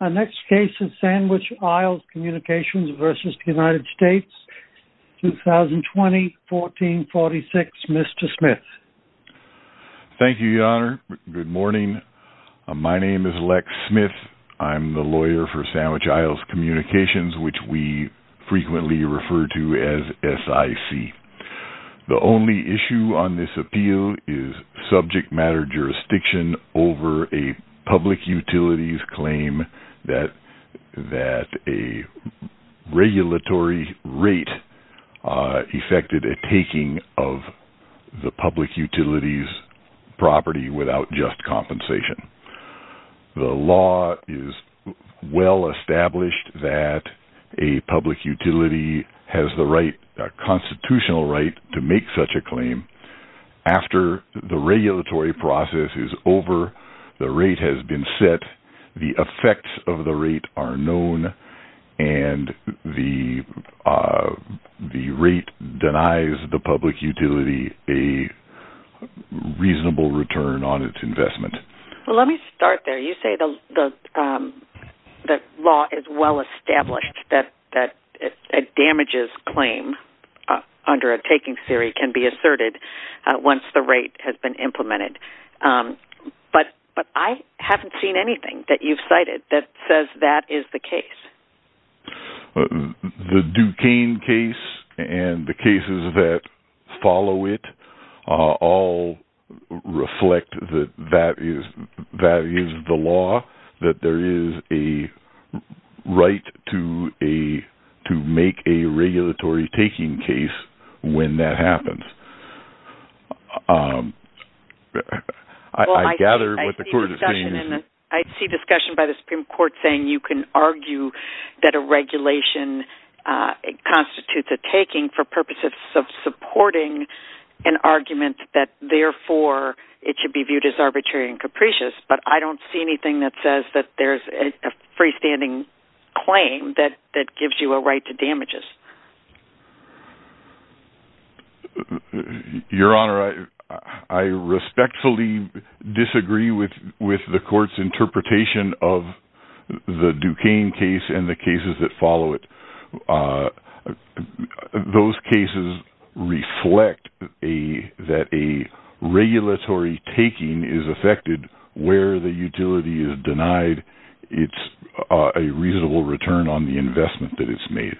Our next case is Sandwich Isles Communications v. United States, 2020, 1446. Mr. Smith. Thank you, Your Honor. Good morning. My name is Lex Smith. I'm the lawyer for Sandwich Isles Communications, which we frequently refer to as SIC. The only issue on this appeal is subject matter jurisdiction over a public utilities claim that a regulatory rate affected a taking of the public utilities property without just compensation. The law is well established that a public utility has the constitutional right to make such a claim. After the regulatory process is over, the rate has been set, the effects of the rate are known, and the rate denies the public utility a reasonable return on its investment. Let me start there. You say the the law is well established that damages claim under a taking theory can be asserted once the rate has been implemented. But I haven't seen anything that you've cited that says that is the case. The Duquesne case and the cases that follow it all reflect that that is the law, that there is a right to make a regulatory taking case when that happens. I see discussion by the Supreme Court saying you can argue that a regulation constitutes a taking for purposes of supporting an argument that therefore it should be viewed as arbitrary and there is a free-standing claim that gives you a right to damages. Your Honor, I respectfully disagree with the court's interpretation of the Duquesne case and the cases that follow it. Those cases reflect that a regulatory taking is affected where the utility is denied a reasonable return on the investment that it's made.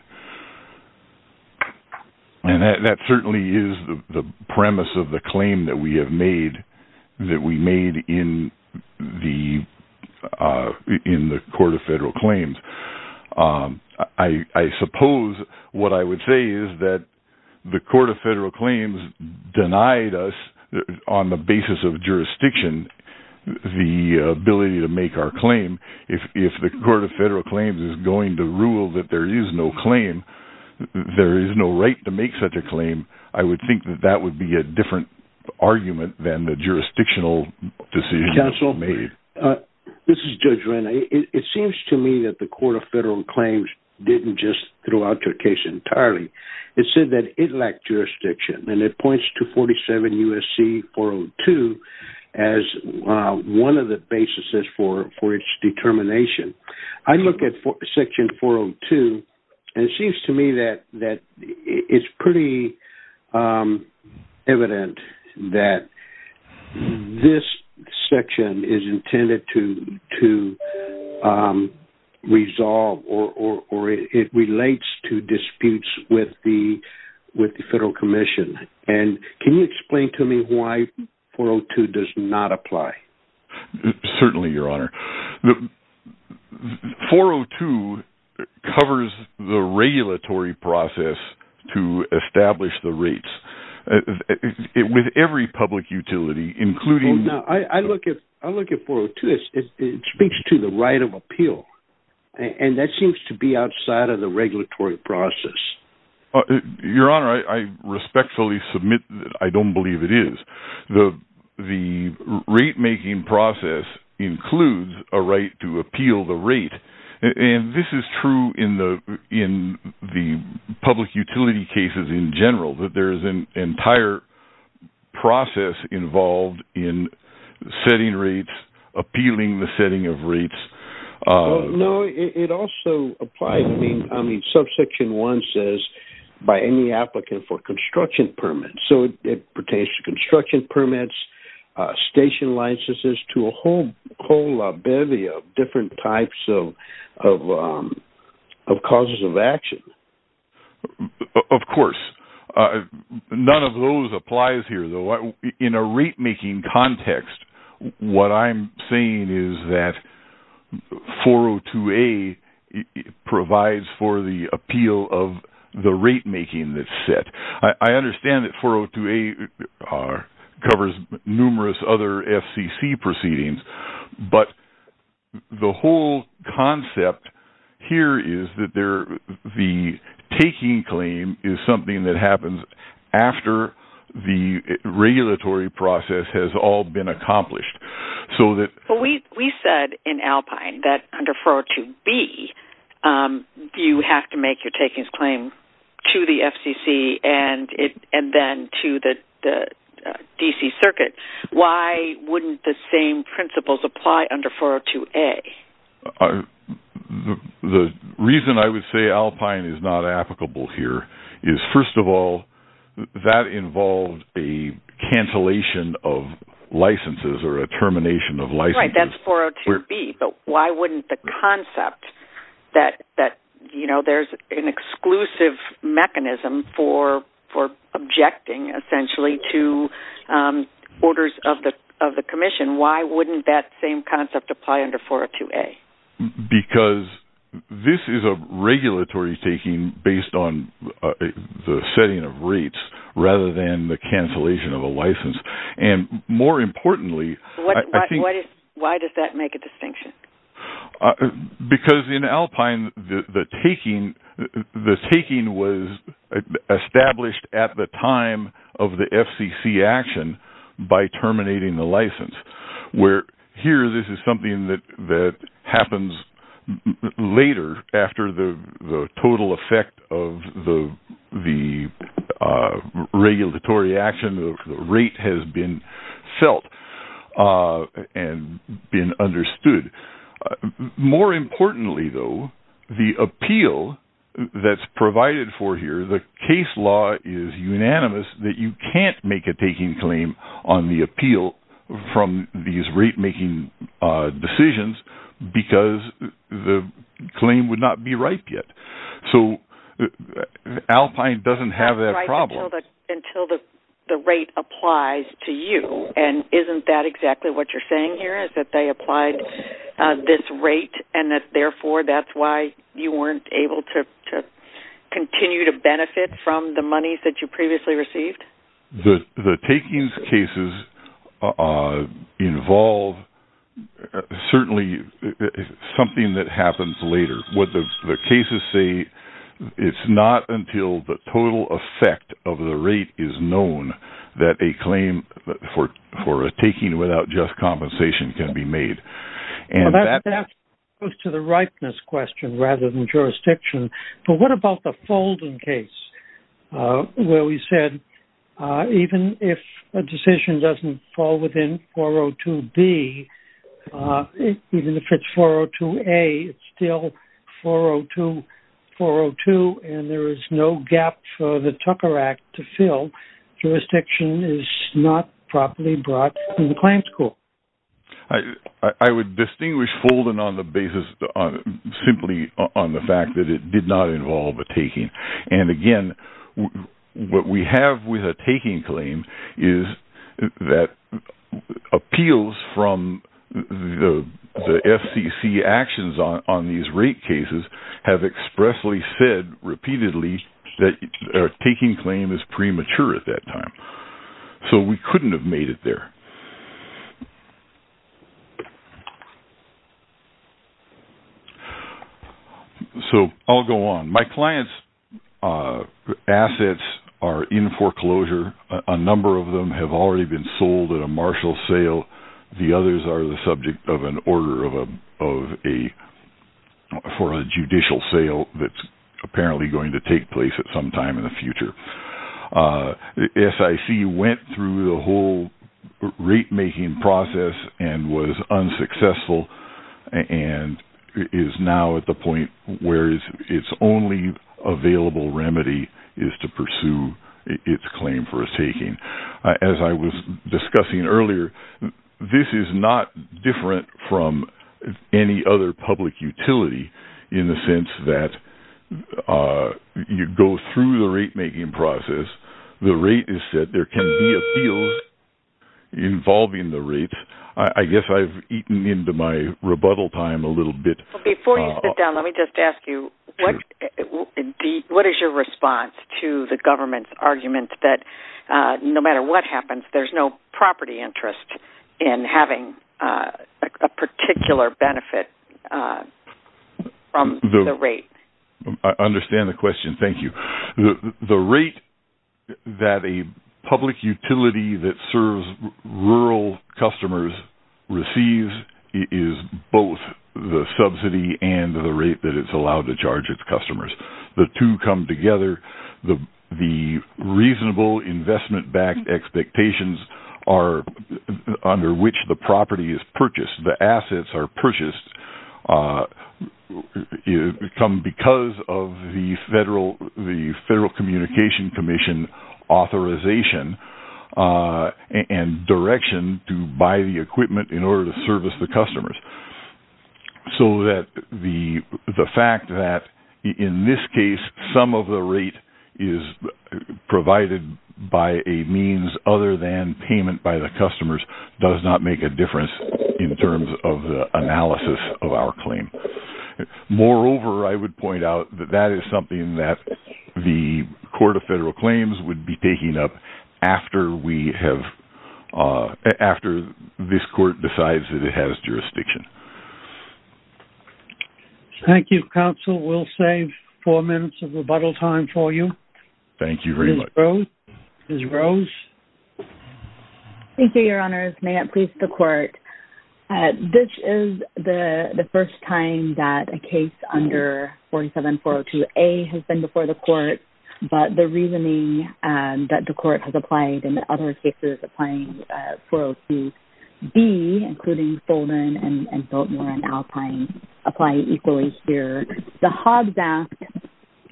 That certainly is the premise of the claim that we made in the Court of Federal Claims. I suppose what I would say is that the Court of Federal Claims denied us, on the basis of jurisdiction, the ability to make our claim. If the Court of Federal Claims is going to rule that there is no claim, there is no right to make such a claim, I would think that that would be a different argument than the jurisdictional decision. Counsel, this is Judge Renner. It seems to me that the Court of Federal Claims didn't just throw out your case entirely. It said that it lacked jurisdiction and it points to 47 U.S.C. 402 as one of the basis for its determination. I look at Section 402 and it is pretty evident that this section is intended to resolve or it relates to disputes with the Federal Commission. Can you explain to me why 402 does not apply? Certainly, Your Honor. 402 covers the regulatory process to establish the rates with every public utility, including... I look at 402 and it speaks to the right of appeal. That seems to be outside of the regulatory process. Your Honor, I respectfully submit that I don't believe it is. The rate-making process includes a right to appeal the rate. This is true in the public utility cases in general, that there is an entire process involved in setting rates, appealing the setting of rates. No, it also applies. Subsection 1 says by any applicant for construction permits. It pertains to construction permits, station licenses, to a whole bevy of different types of causes of action. Of course. None of those applies here. In a rate-making context, what I'm seeing is that 402A provides for the appeal of the rate-making that is set. I understand that 402A covers numerous other FCC proceedings, but the whole concept here is that the taking claim is something that happens after the regulatory process has all been accomplished. But we said in Alpine that under 402B, you have to make your takings claim to the FCC and then to the D.C. Circuit. Why wouldn't the same principles apply under 402A? The reason I would say Alpine is not applicable here is, first of all, that involves a licenses or a termination of licenses. That's 402B, but why wouldn't the concept that there's an exclusive mechanism for objecting essentially to orders of the commission, why wouldn't that same concept apply under 402A? Because this is a regulatory taking based on the setting of rates rather than the cancellation of a license. More importantly... Why does that make a distinction? Because in Alpine, the taking was established at the time of the FCC action by terminating the the regulatory action, the rate has been felt and been understood. More importantly though, the appeal that's provided for here, the case law is unanimous that you can't make a taking claim on the appeal from these rate making decisions because the claim would not be ripe yet. So Alpine doesn't have that problem. Until the rate applies to you and isn't that exactly what you're saying here is that they applied this rate and that therefore that's why you weren't able to continue to benefit from the monies that you previously received? The takings cases involve certainly something that happens later. What the cases say, it's not until the total effect of the rate is known that a claim for a taking without just compensation can be made. And that goes to the ripeness question rather than jurisdiction. But what about the folding case where we said even if a decision doesn't fall within 402B, even if it's 402A, it's still 402, 402 and there is no gap for the Tucker Act to fill. Jurisdiction is not properly brought in the claim school. I would distinguish folding on the basis simply on the fact that it did not involve a taking. And again, what we have with a taking claim is that appeals from the FCC actions on these rate cases have expressly said repeatedly that our taking claim is premature at that time. So we couldn't have made it there. So I'll go on. My client's assets are in foreclosure. A number of them have already been sold at a Marshall sale. The others are the subject of an order for a judicial sale that's apparently going to take place at some time in the future. The SIC went through the whole rate-making process and was unsuccessful and is now at the point where its only available remedy is to pursue its claim for a taking. As I was discussing earlier, this is not different from any other public utility in the sense that you go through the rate-making process, the rate is set, there can be appeals involving the rate. I guess I've eaten into my rebuttal time a little bit. Before you sit down, let me just ask you, what is your response to the government's argument that no matter what happens, there's no property interest in having a particular benefit from the rate? I understand the question. Thank you. The rate that a public utility that serves rural customers receives is both the subsidy and the rate that it's allowed to charge its customers. The two come together. The reasonable investment-backed expectations are under which the property is purchased. The assets are purchased because of the Federal Communication Commission authorization and direction to buy the equipment in order to service the customers. The fact that in this case, some of the rate is provided by a payment by the customers does not make a difference in terms of the analysis of our claim. Moreover, I would point out that that is something that the Court of Federal Claims would be taking up after this court decides that it has jurisdiction. Thank you, counsel. We'll save four minutes of rebuttal time for you. Thank you very much. Ms. Rose? Thank you, Your Honors. May it please the Court. This is the first time that a case under 47-402-A has been before the Court, but the reasoning that the Court has applied and the other cases applying 402-B, including Fulton and Biltmore and Alpine, apply equally here. The Hobbs Act,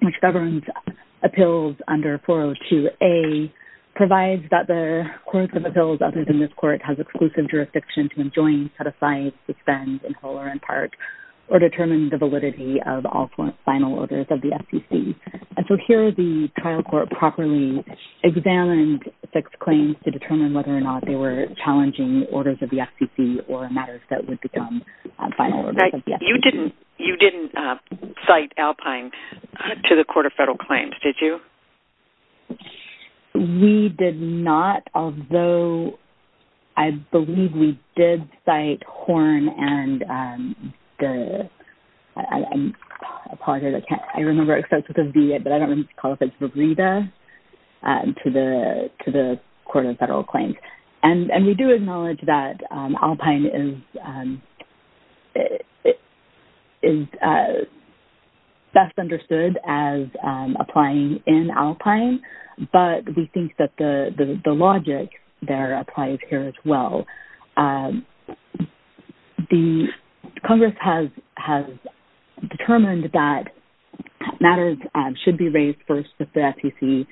which governs appeals under 402-A, provides that the courts of appeals other than this court has exclusive jurisdiction to enjoin, set aside, suspend, and hold or impart, or determine the validity of all final orders of the FCC. And so here, the trial court properly examined six claims to determine whether or not they were challenging orders of the FCC or matters that would become final orders of the FCC. You didn't cite Alpine to the Court of Federal Claims, did you? We did not, although I believe we did cite Horn and the... I apologize, I can't... I remember but I don't remember if it's Verita to the Court of Federal Claims. And we do acknowledge that Alpine is best understood as applying in Alpine, but we think that the logic there applies here as well. The Congress has determined that matters should be raised first with the FCC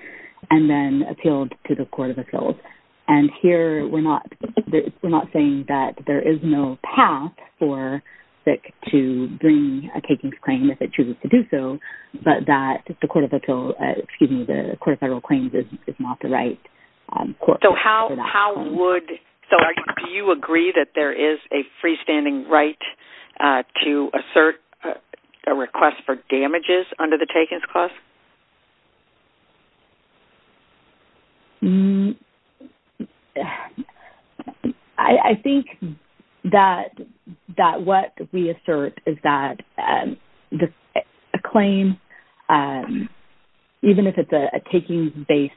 and then appealed to the Court of Appeals. And here, we're not saying that there is no path for FIC to bring a takings claim if it chooses to do so, but that the Court of Appeals, do you agree that there is a freestanding right to assert a request for damages under the takings clause? I think that what we assert is that a claim, even if it's a takings-based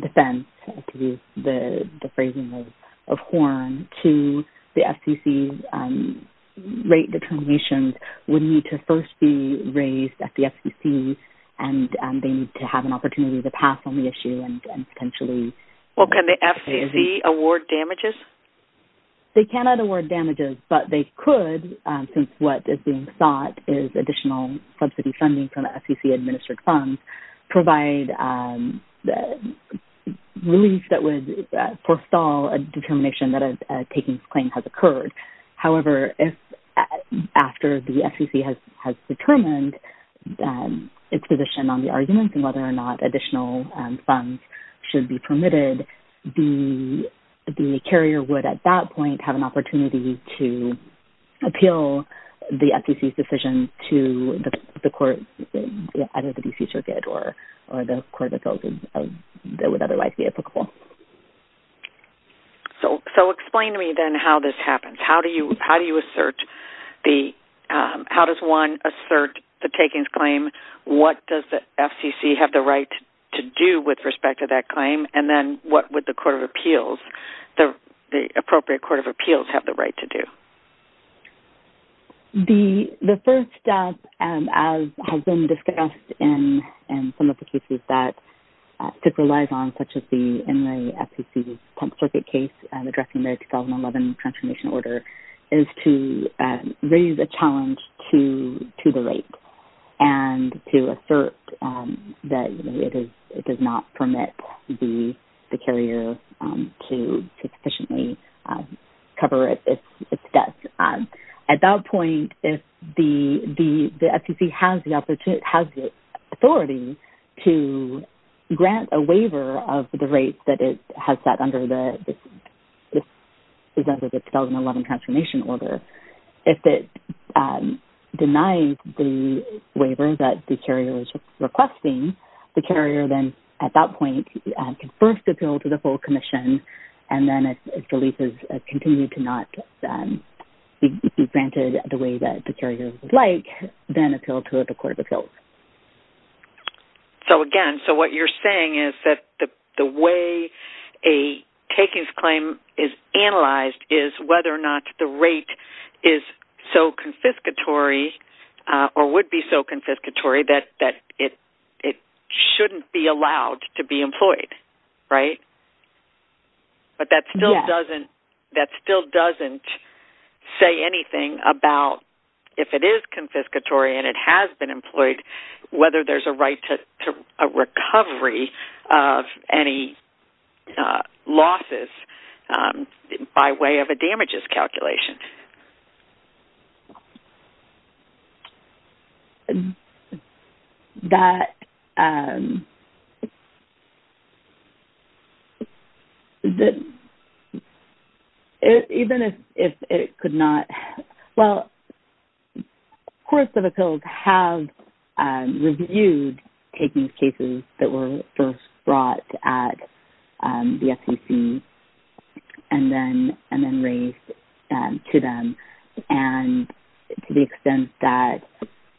defense, the phrasing of Horn, to the FCC rate determinations would need to first be raised at the FCC and they need to have an opportunity to pass on the issue and potentially... Well, can the FCC award damages? They cannot award damages, but they could, since what is being sought is additional subsidy funding from the FCC-administered funds, provide relief that would forestall a determination that a takings claim has occurred. However, if after the FCC has determined its position on the arguments and whether or not additional funds should be permitted, the carrier would at that point have an opportunity to appeal the FCC's decision to either the DC Circuit or the Court of Appeals that would otherwise be applicable. So explain to me then how this happens. How does one assert the takings claim? What does the FCC have the right to do with respect to that claim? And then what would the Court of Appeals, the appropriate Court of Appeals have the right to do? The first step, as has been discussed in some of the cases that FICC relies on, such as the NRA-FCC Temp Circuit case addressing the 2011 transformation order, is to raise a challenge to the rate and to assert that it does not permit the carrier to sufficiently cover it if at that point if the FCC has the opportunity, has the authority to grant a waiver of the rate that it has set under the 2011 transformation order. If it denies the waiver that the carrier is requesting, the carrier then at that point can first appeal to the full commission and then if the lease has continued to not be granted the way that the carrier would like, then appeal to the Court of Appeals. So again, so what you're saying is that the way a takings claim is analyzed is whether or not the rate is so confiscatory or would be so confiscatory that it shouldn't be allowed to be employed, right? But that still doesn't say anything about if it is confiscatory and it has been employed, whether there's a right to a recovery of any losses by way of a damages calculation. That even if it could not, well, Courts of Appeals have reviewed takings cases that were first brought at the FCC and then raised to them and to the extent that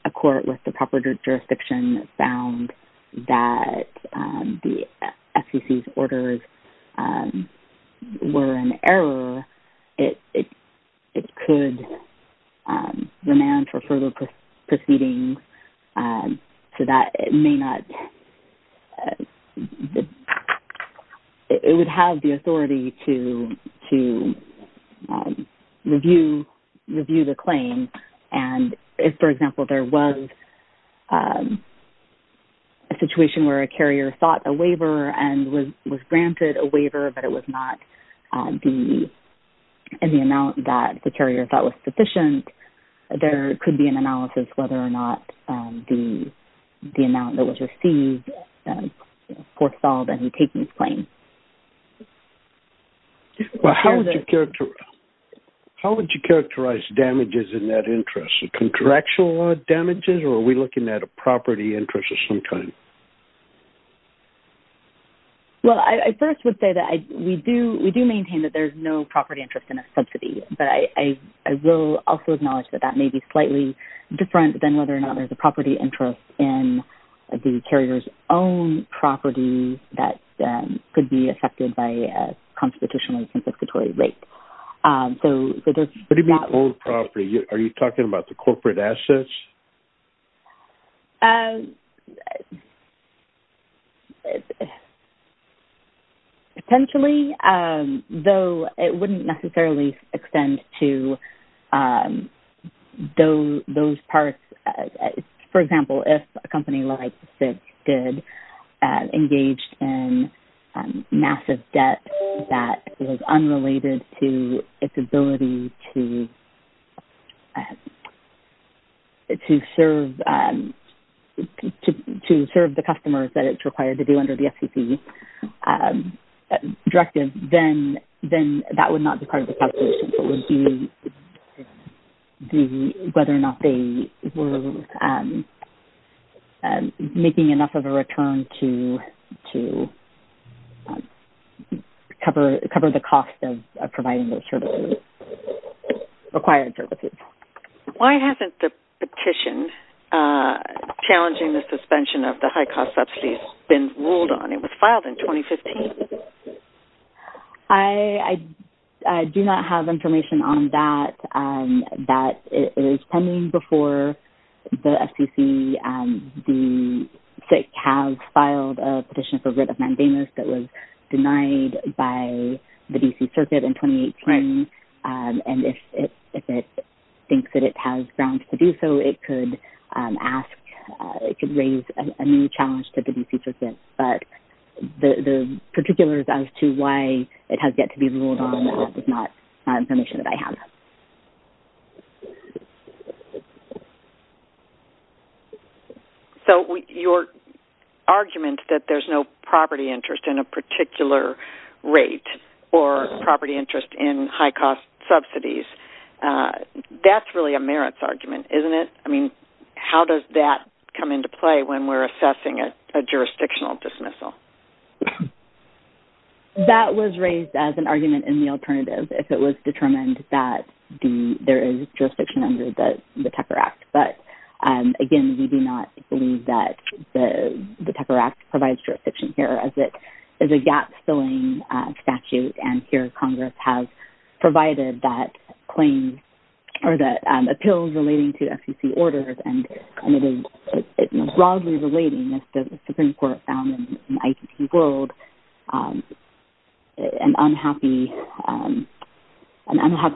a court with the proper jurisdiction found that the FCC's orders were an error, it could remand for further proceedings so that it may not, it would have the authority to review the claim and if, for example, there was a situation where a carrier sought a waiver and was granted a waiver but it was not in the amount that the carrier thought was sufficient, there could be an analysis whether or not the amount that was received foresaw the takings claim. Well, how would you characterize damages in that interest? Contractual damages or are we looking at a property interest at some time? Well, I first would say that we do maintain that there's no property interest in a subsidy, but I will also acknowledge that that may be slightly different than whether or not there's a property interest in the carrier's own property that could be affected by a corporate asset. Potentially, though, it wouldn't necessarily extend to those parts. For example, if a company like FIGS did engage in massive debt that was unrelated to its ability to serve the customers that it's required to do under the FCC directive, then that would not be part of the calculation. It would be whether or not they were making enough of a return to cover the cost of providing those services, required services. Why hasn't the petition challenging the suspension of the high-cost subsidies been ruled on? It was filed in 2015. I do not have information on that. That is pending before the FCC and the FIG has filed a petition for writ of mandamus that was denied by the D.C. Circuit in 2018. And if it thinks that it has grounds to do so, it could ask, it could raise a new challenge to the D.C. Circuit. But the particulars as to why it has yet to be ruled on is not information that I have. So your argument that there's no property interest in a particular rate or property interest in high-cost subsidies, that's really a merits argument, isn't it? I mean, how does that come into play when we're assessing a jurisdictional dismissal? That was raised as an argument in the alternative if it was determined that there is jurisdiction under the Tucker Act. But again, we do not believe that the Tucker Act provides jurisdiction here as it is a gap-filling statute. And here Congress has provided that claim or that appeal relating to FCC orders. And it is broadly relating as the Supreme Court found in the ICC world, an unhappy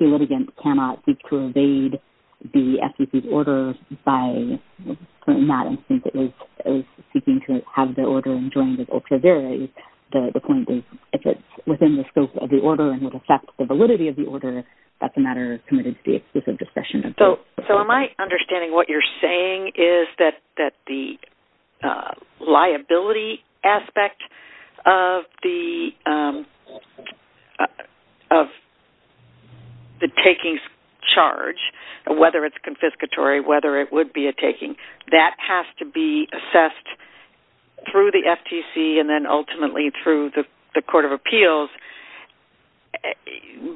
litigant cannot seek to evade the FCC's orders by putting that and seeking to have the order enjoined or preserve it. The point is, if it's within the scope of the order and would affect the validity of the order, that's a matter committed to the exclusive discretion of the FCC. So am I understanding what you're saying is that the liability aspect of the takings charge, whether it's confiscatory, whether it would be a taking, that has to be assessed through the FTC and then ultimately through the Court of Appeals.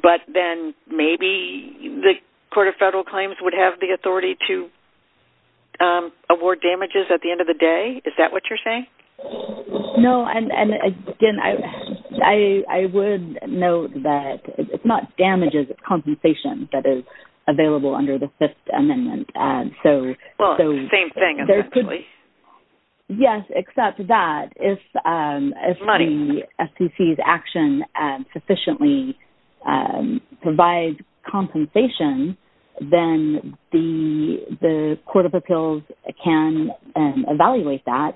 But then maybe the Court of Federal Claims would have the authority to award damages at the end of the day? Is that what you're saying? No. And again, I would note that it's not damages, it's compensation that is available under the Fifth Amendment. Well, same thing, essentially. Yes, except that if the FCC's action sufficiently provides compensation, then the Court of Appeals can evaluate that.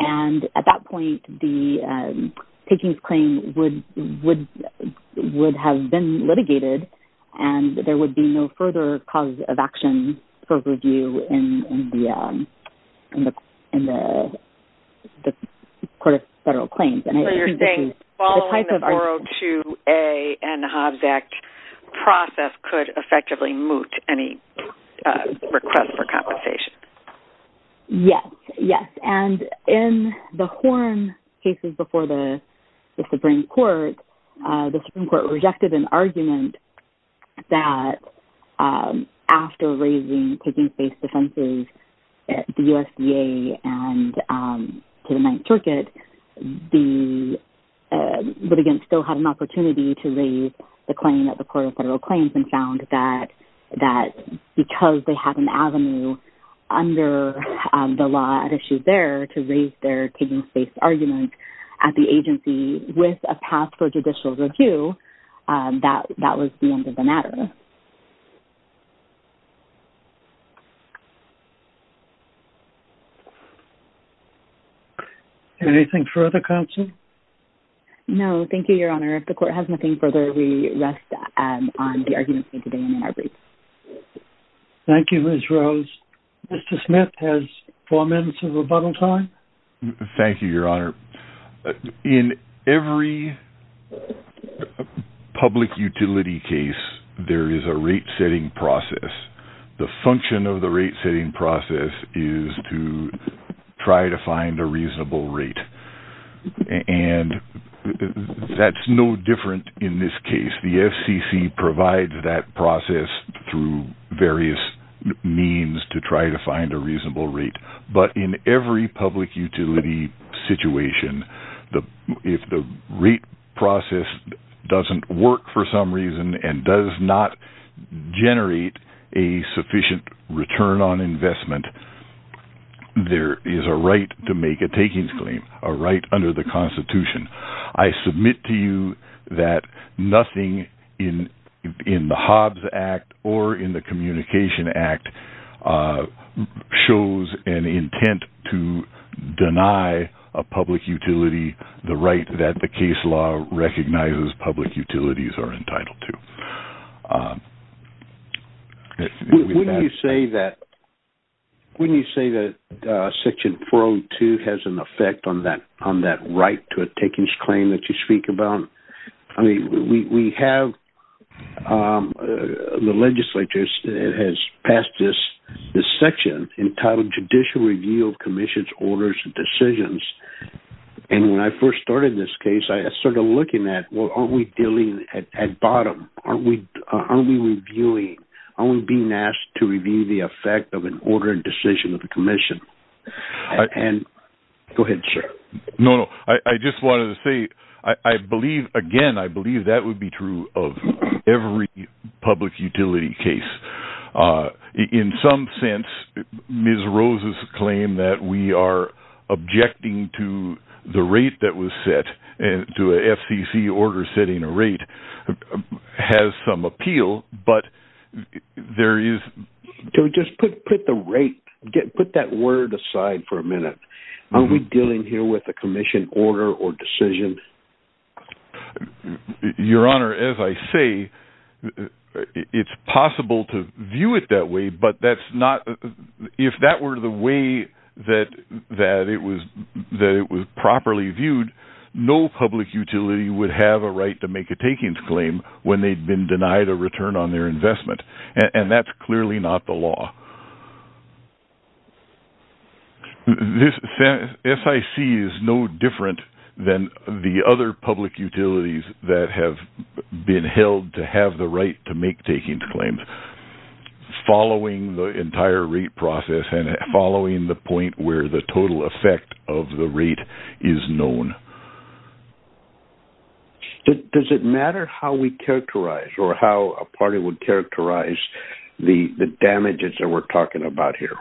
And at that point, the takings claim would have been litigated and there would be further causes of action for review in the Court of Federal Claims. So you're saying following the Boro 2A and Hobbs Act process could effectively moot any request for compensation? Yes. And in the Horn cases before the Supreme Court, the Supreme Court rejected an argument that after raising takings-based defenses at the USDA and to the Ninth Circuit, the litigants still had an opportunity to raise the claim at the Court of Federal Claims and found that because they had an avenue under the law at issue there to raise their takings-based argument at the agency with a path for judicial review, that was the end of the matter. Anything further, Counsel? No, thank you, Your Honor. If the Court has nothing further, we rest on the argument stated in our brief. Thank you, Ms. Rose. Mr. Smith has four minutes of rebuttal time. Thank you, Your Honor. In every public utility case, there is a rate-setting process. The function of the rate-setting process is to try to find a reasonable rate. And that's no different in this case. The FCC provides that process through various means to try to find a reasonable rate. But in every public utility situation, if the rate process doesn't work for some reason and does not generate a sufficient return on investment, there is a right to make a takings claim, a right under the Constitution. I submit to you that nothing in the Hobbs Act or in the intent to deny a public utility the right that the case law recognizes public utilities are entitled to. Wouldn't you say that Section 402 has an effect on that right to a takings claim that you speak commission's orders and decisions? And when I first started this case, I started looking at, well, aren't we dealing at bottom? Aren't we reviewing? Aren't we being asked to review the effect of an order and decision of the commission? And go ahead, sir. No, no. I just wanted to say, I believe, again, I believe that would be true of every public utility case. In some sense, Ms. Rose's claim that we are objecting to the rate that was set and to a FCC order setting a rate has some appeal, but there is... So just put the rate, put that word aside for a minute. Are we dealing here with a commission order or decision? Your Honor, as I say, it's possible to view it that way, but that's not... If that were the way that it was properly viewed, no public utility would have a right to make a takings claim when they'd been denied a return on their investment. And that's clearly not the law. So this SIC is no different than the other public utilities that have been held to have the right to make takings claims following the entire rate process and following the point where the total effect of the rate is known. Does it matter how we characterize or how a party would characterize the damages that we're talking about here,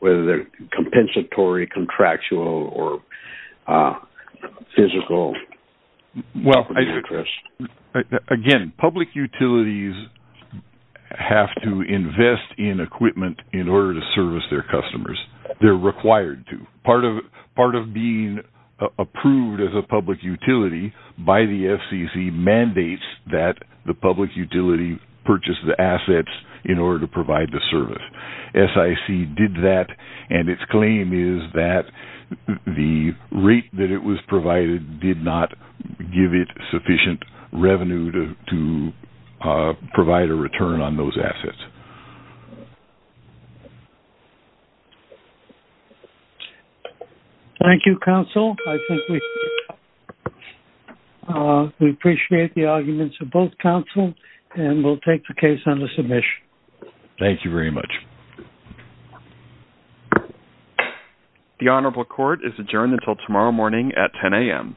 whether they're compensatory, contractual, or physical? Well, again, public utilities have to invest in equipment in order to service their customers. They're required to. Part of being approved as a public utility by the FCC mandates that the public utility purchase the assets in order to provide the service. SIC did that, and its claim is that the rate that it was provided did not give it sufficient revenue to provide a return on those assets. Thank you, counsel. I think we appreciate the arguments of both counsel, and we'll take the case on the submission. Thank you very much. The Honorable Court is adjourned until tomorrow morning at 10 a.m.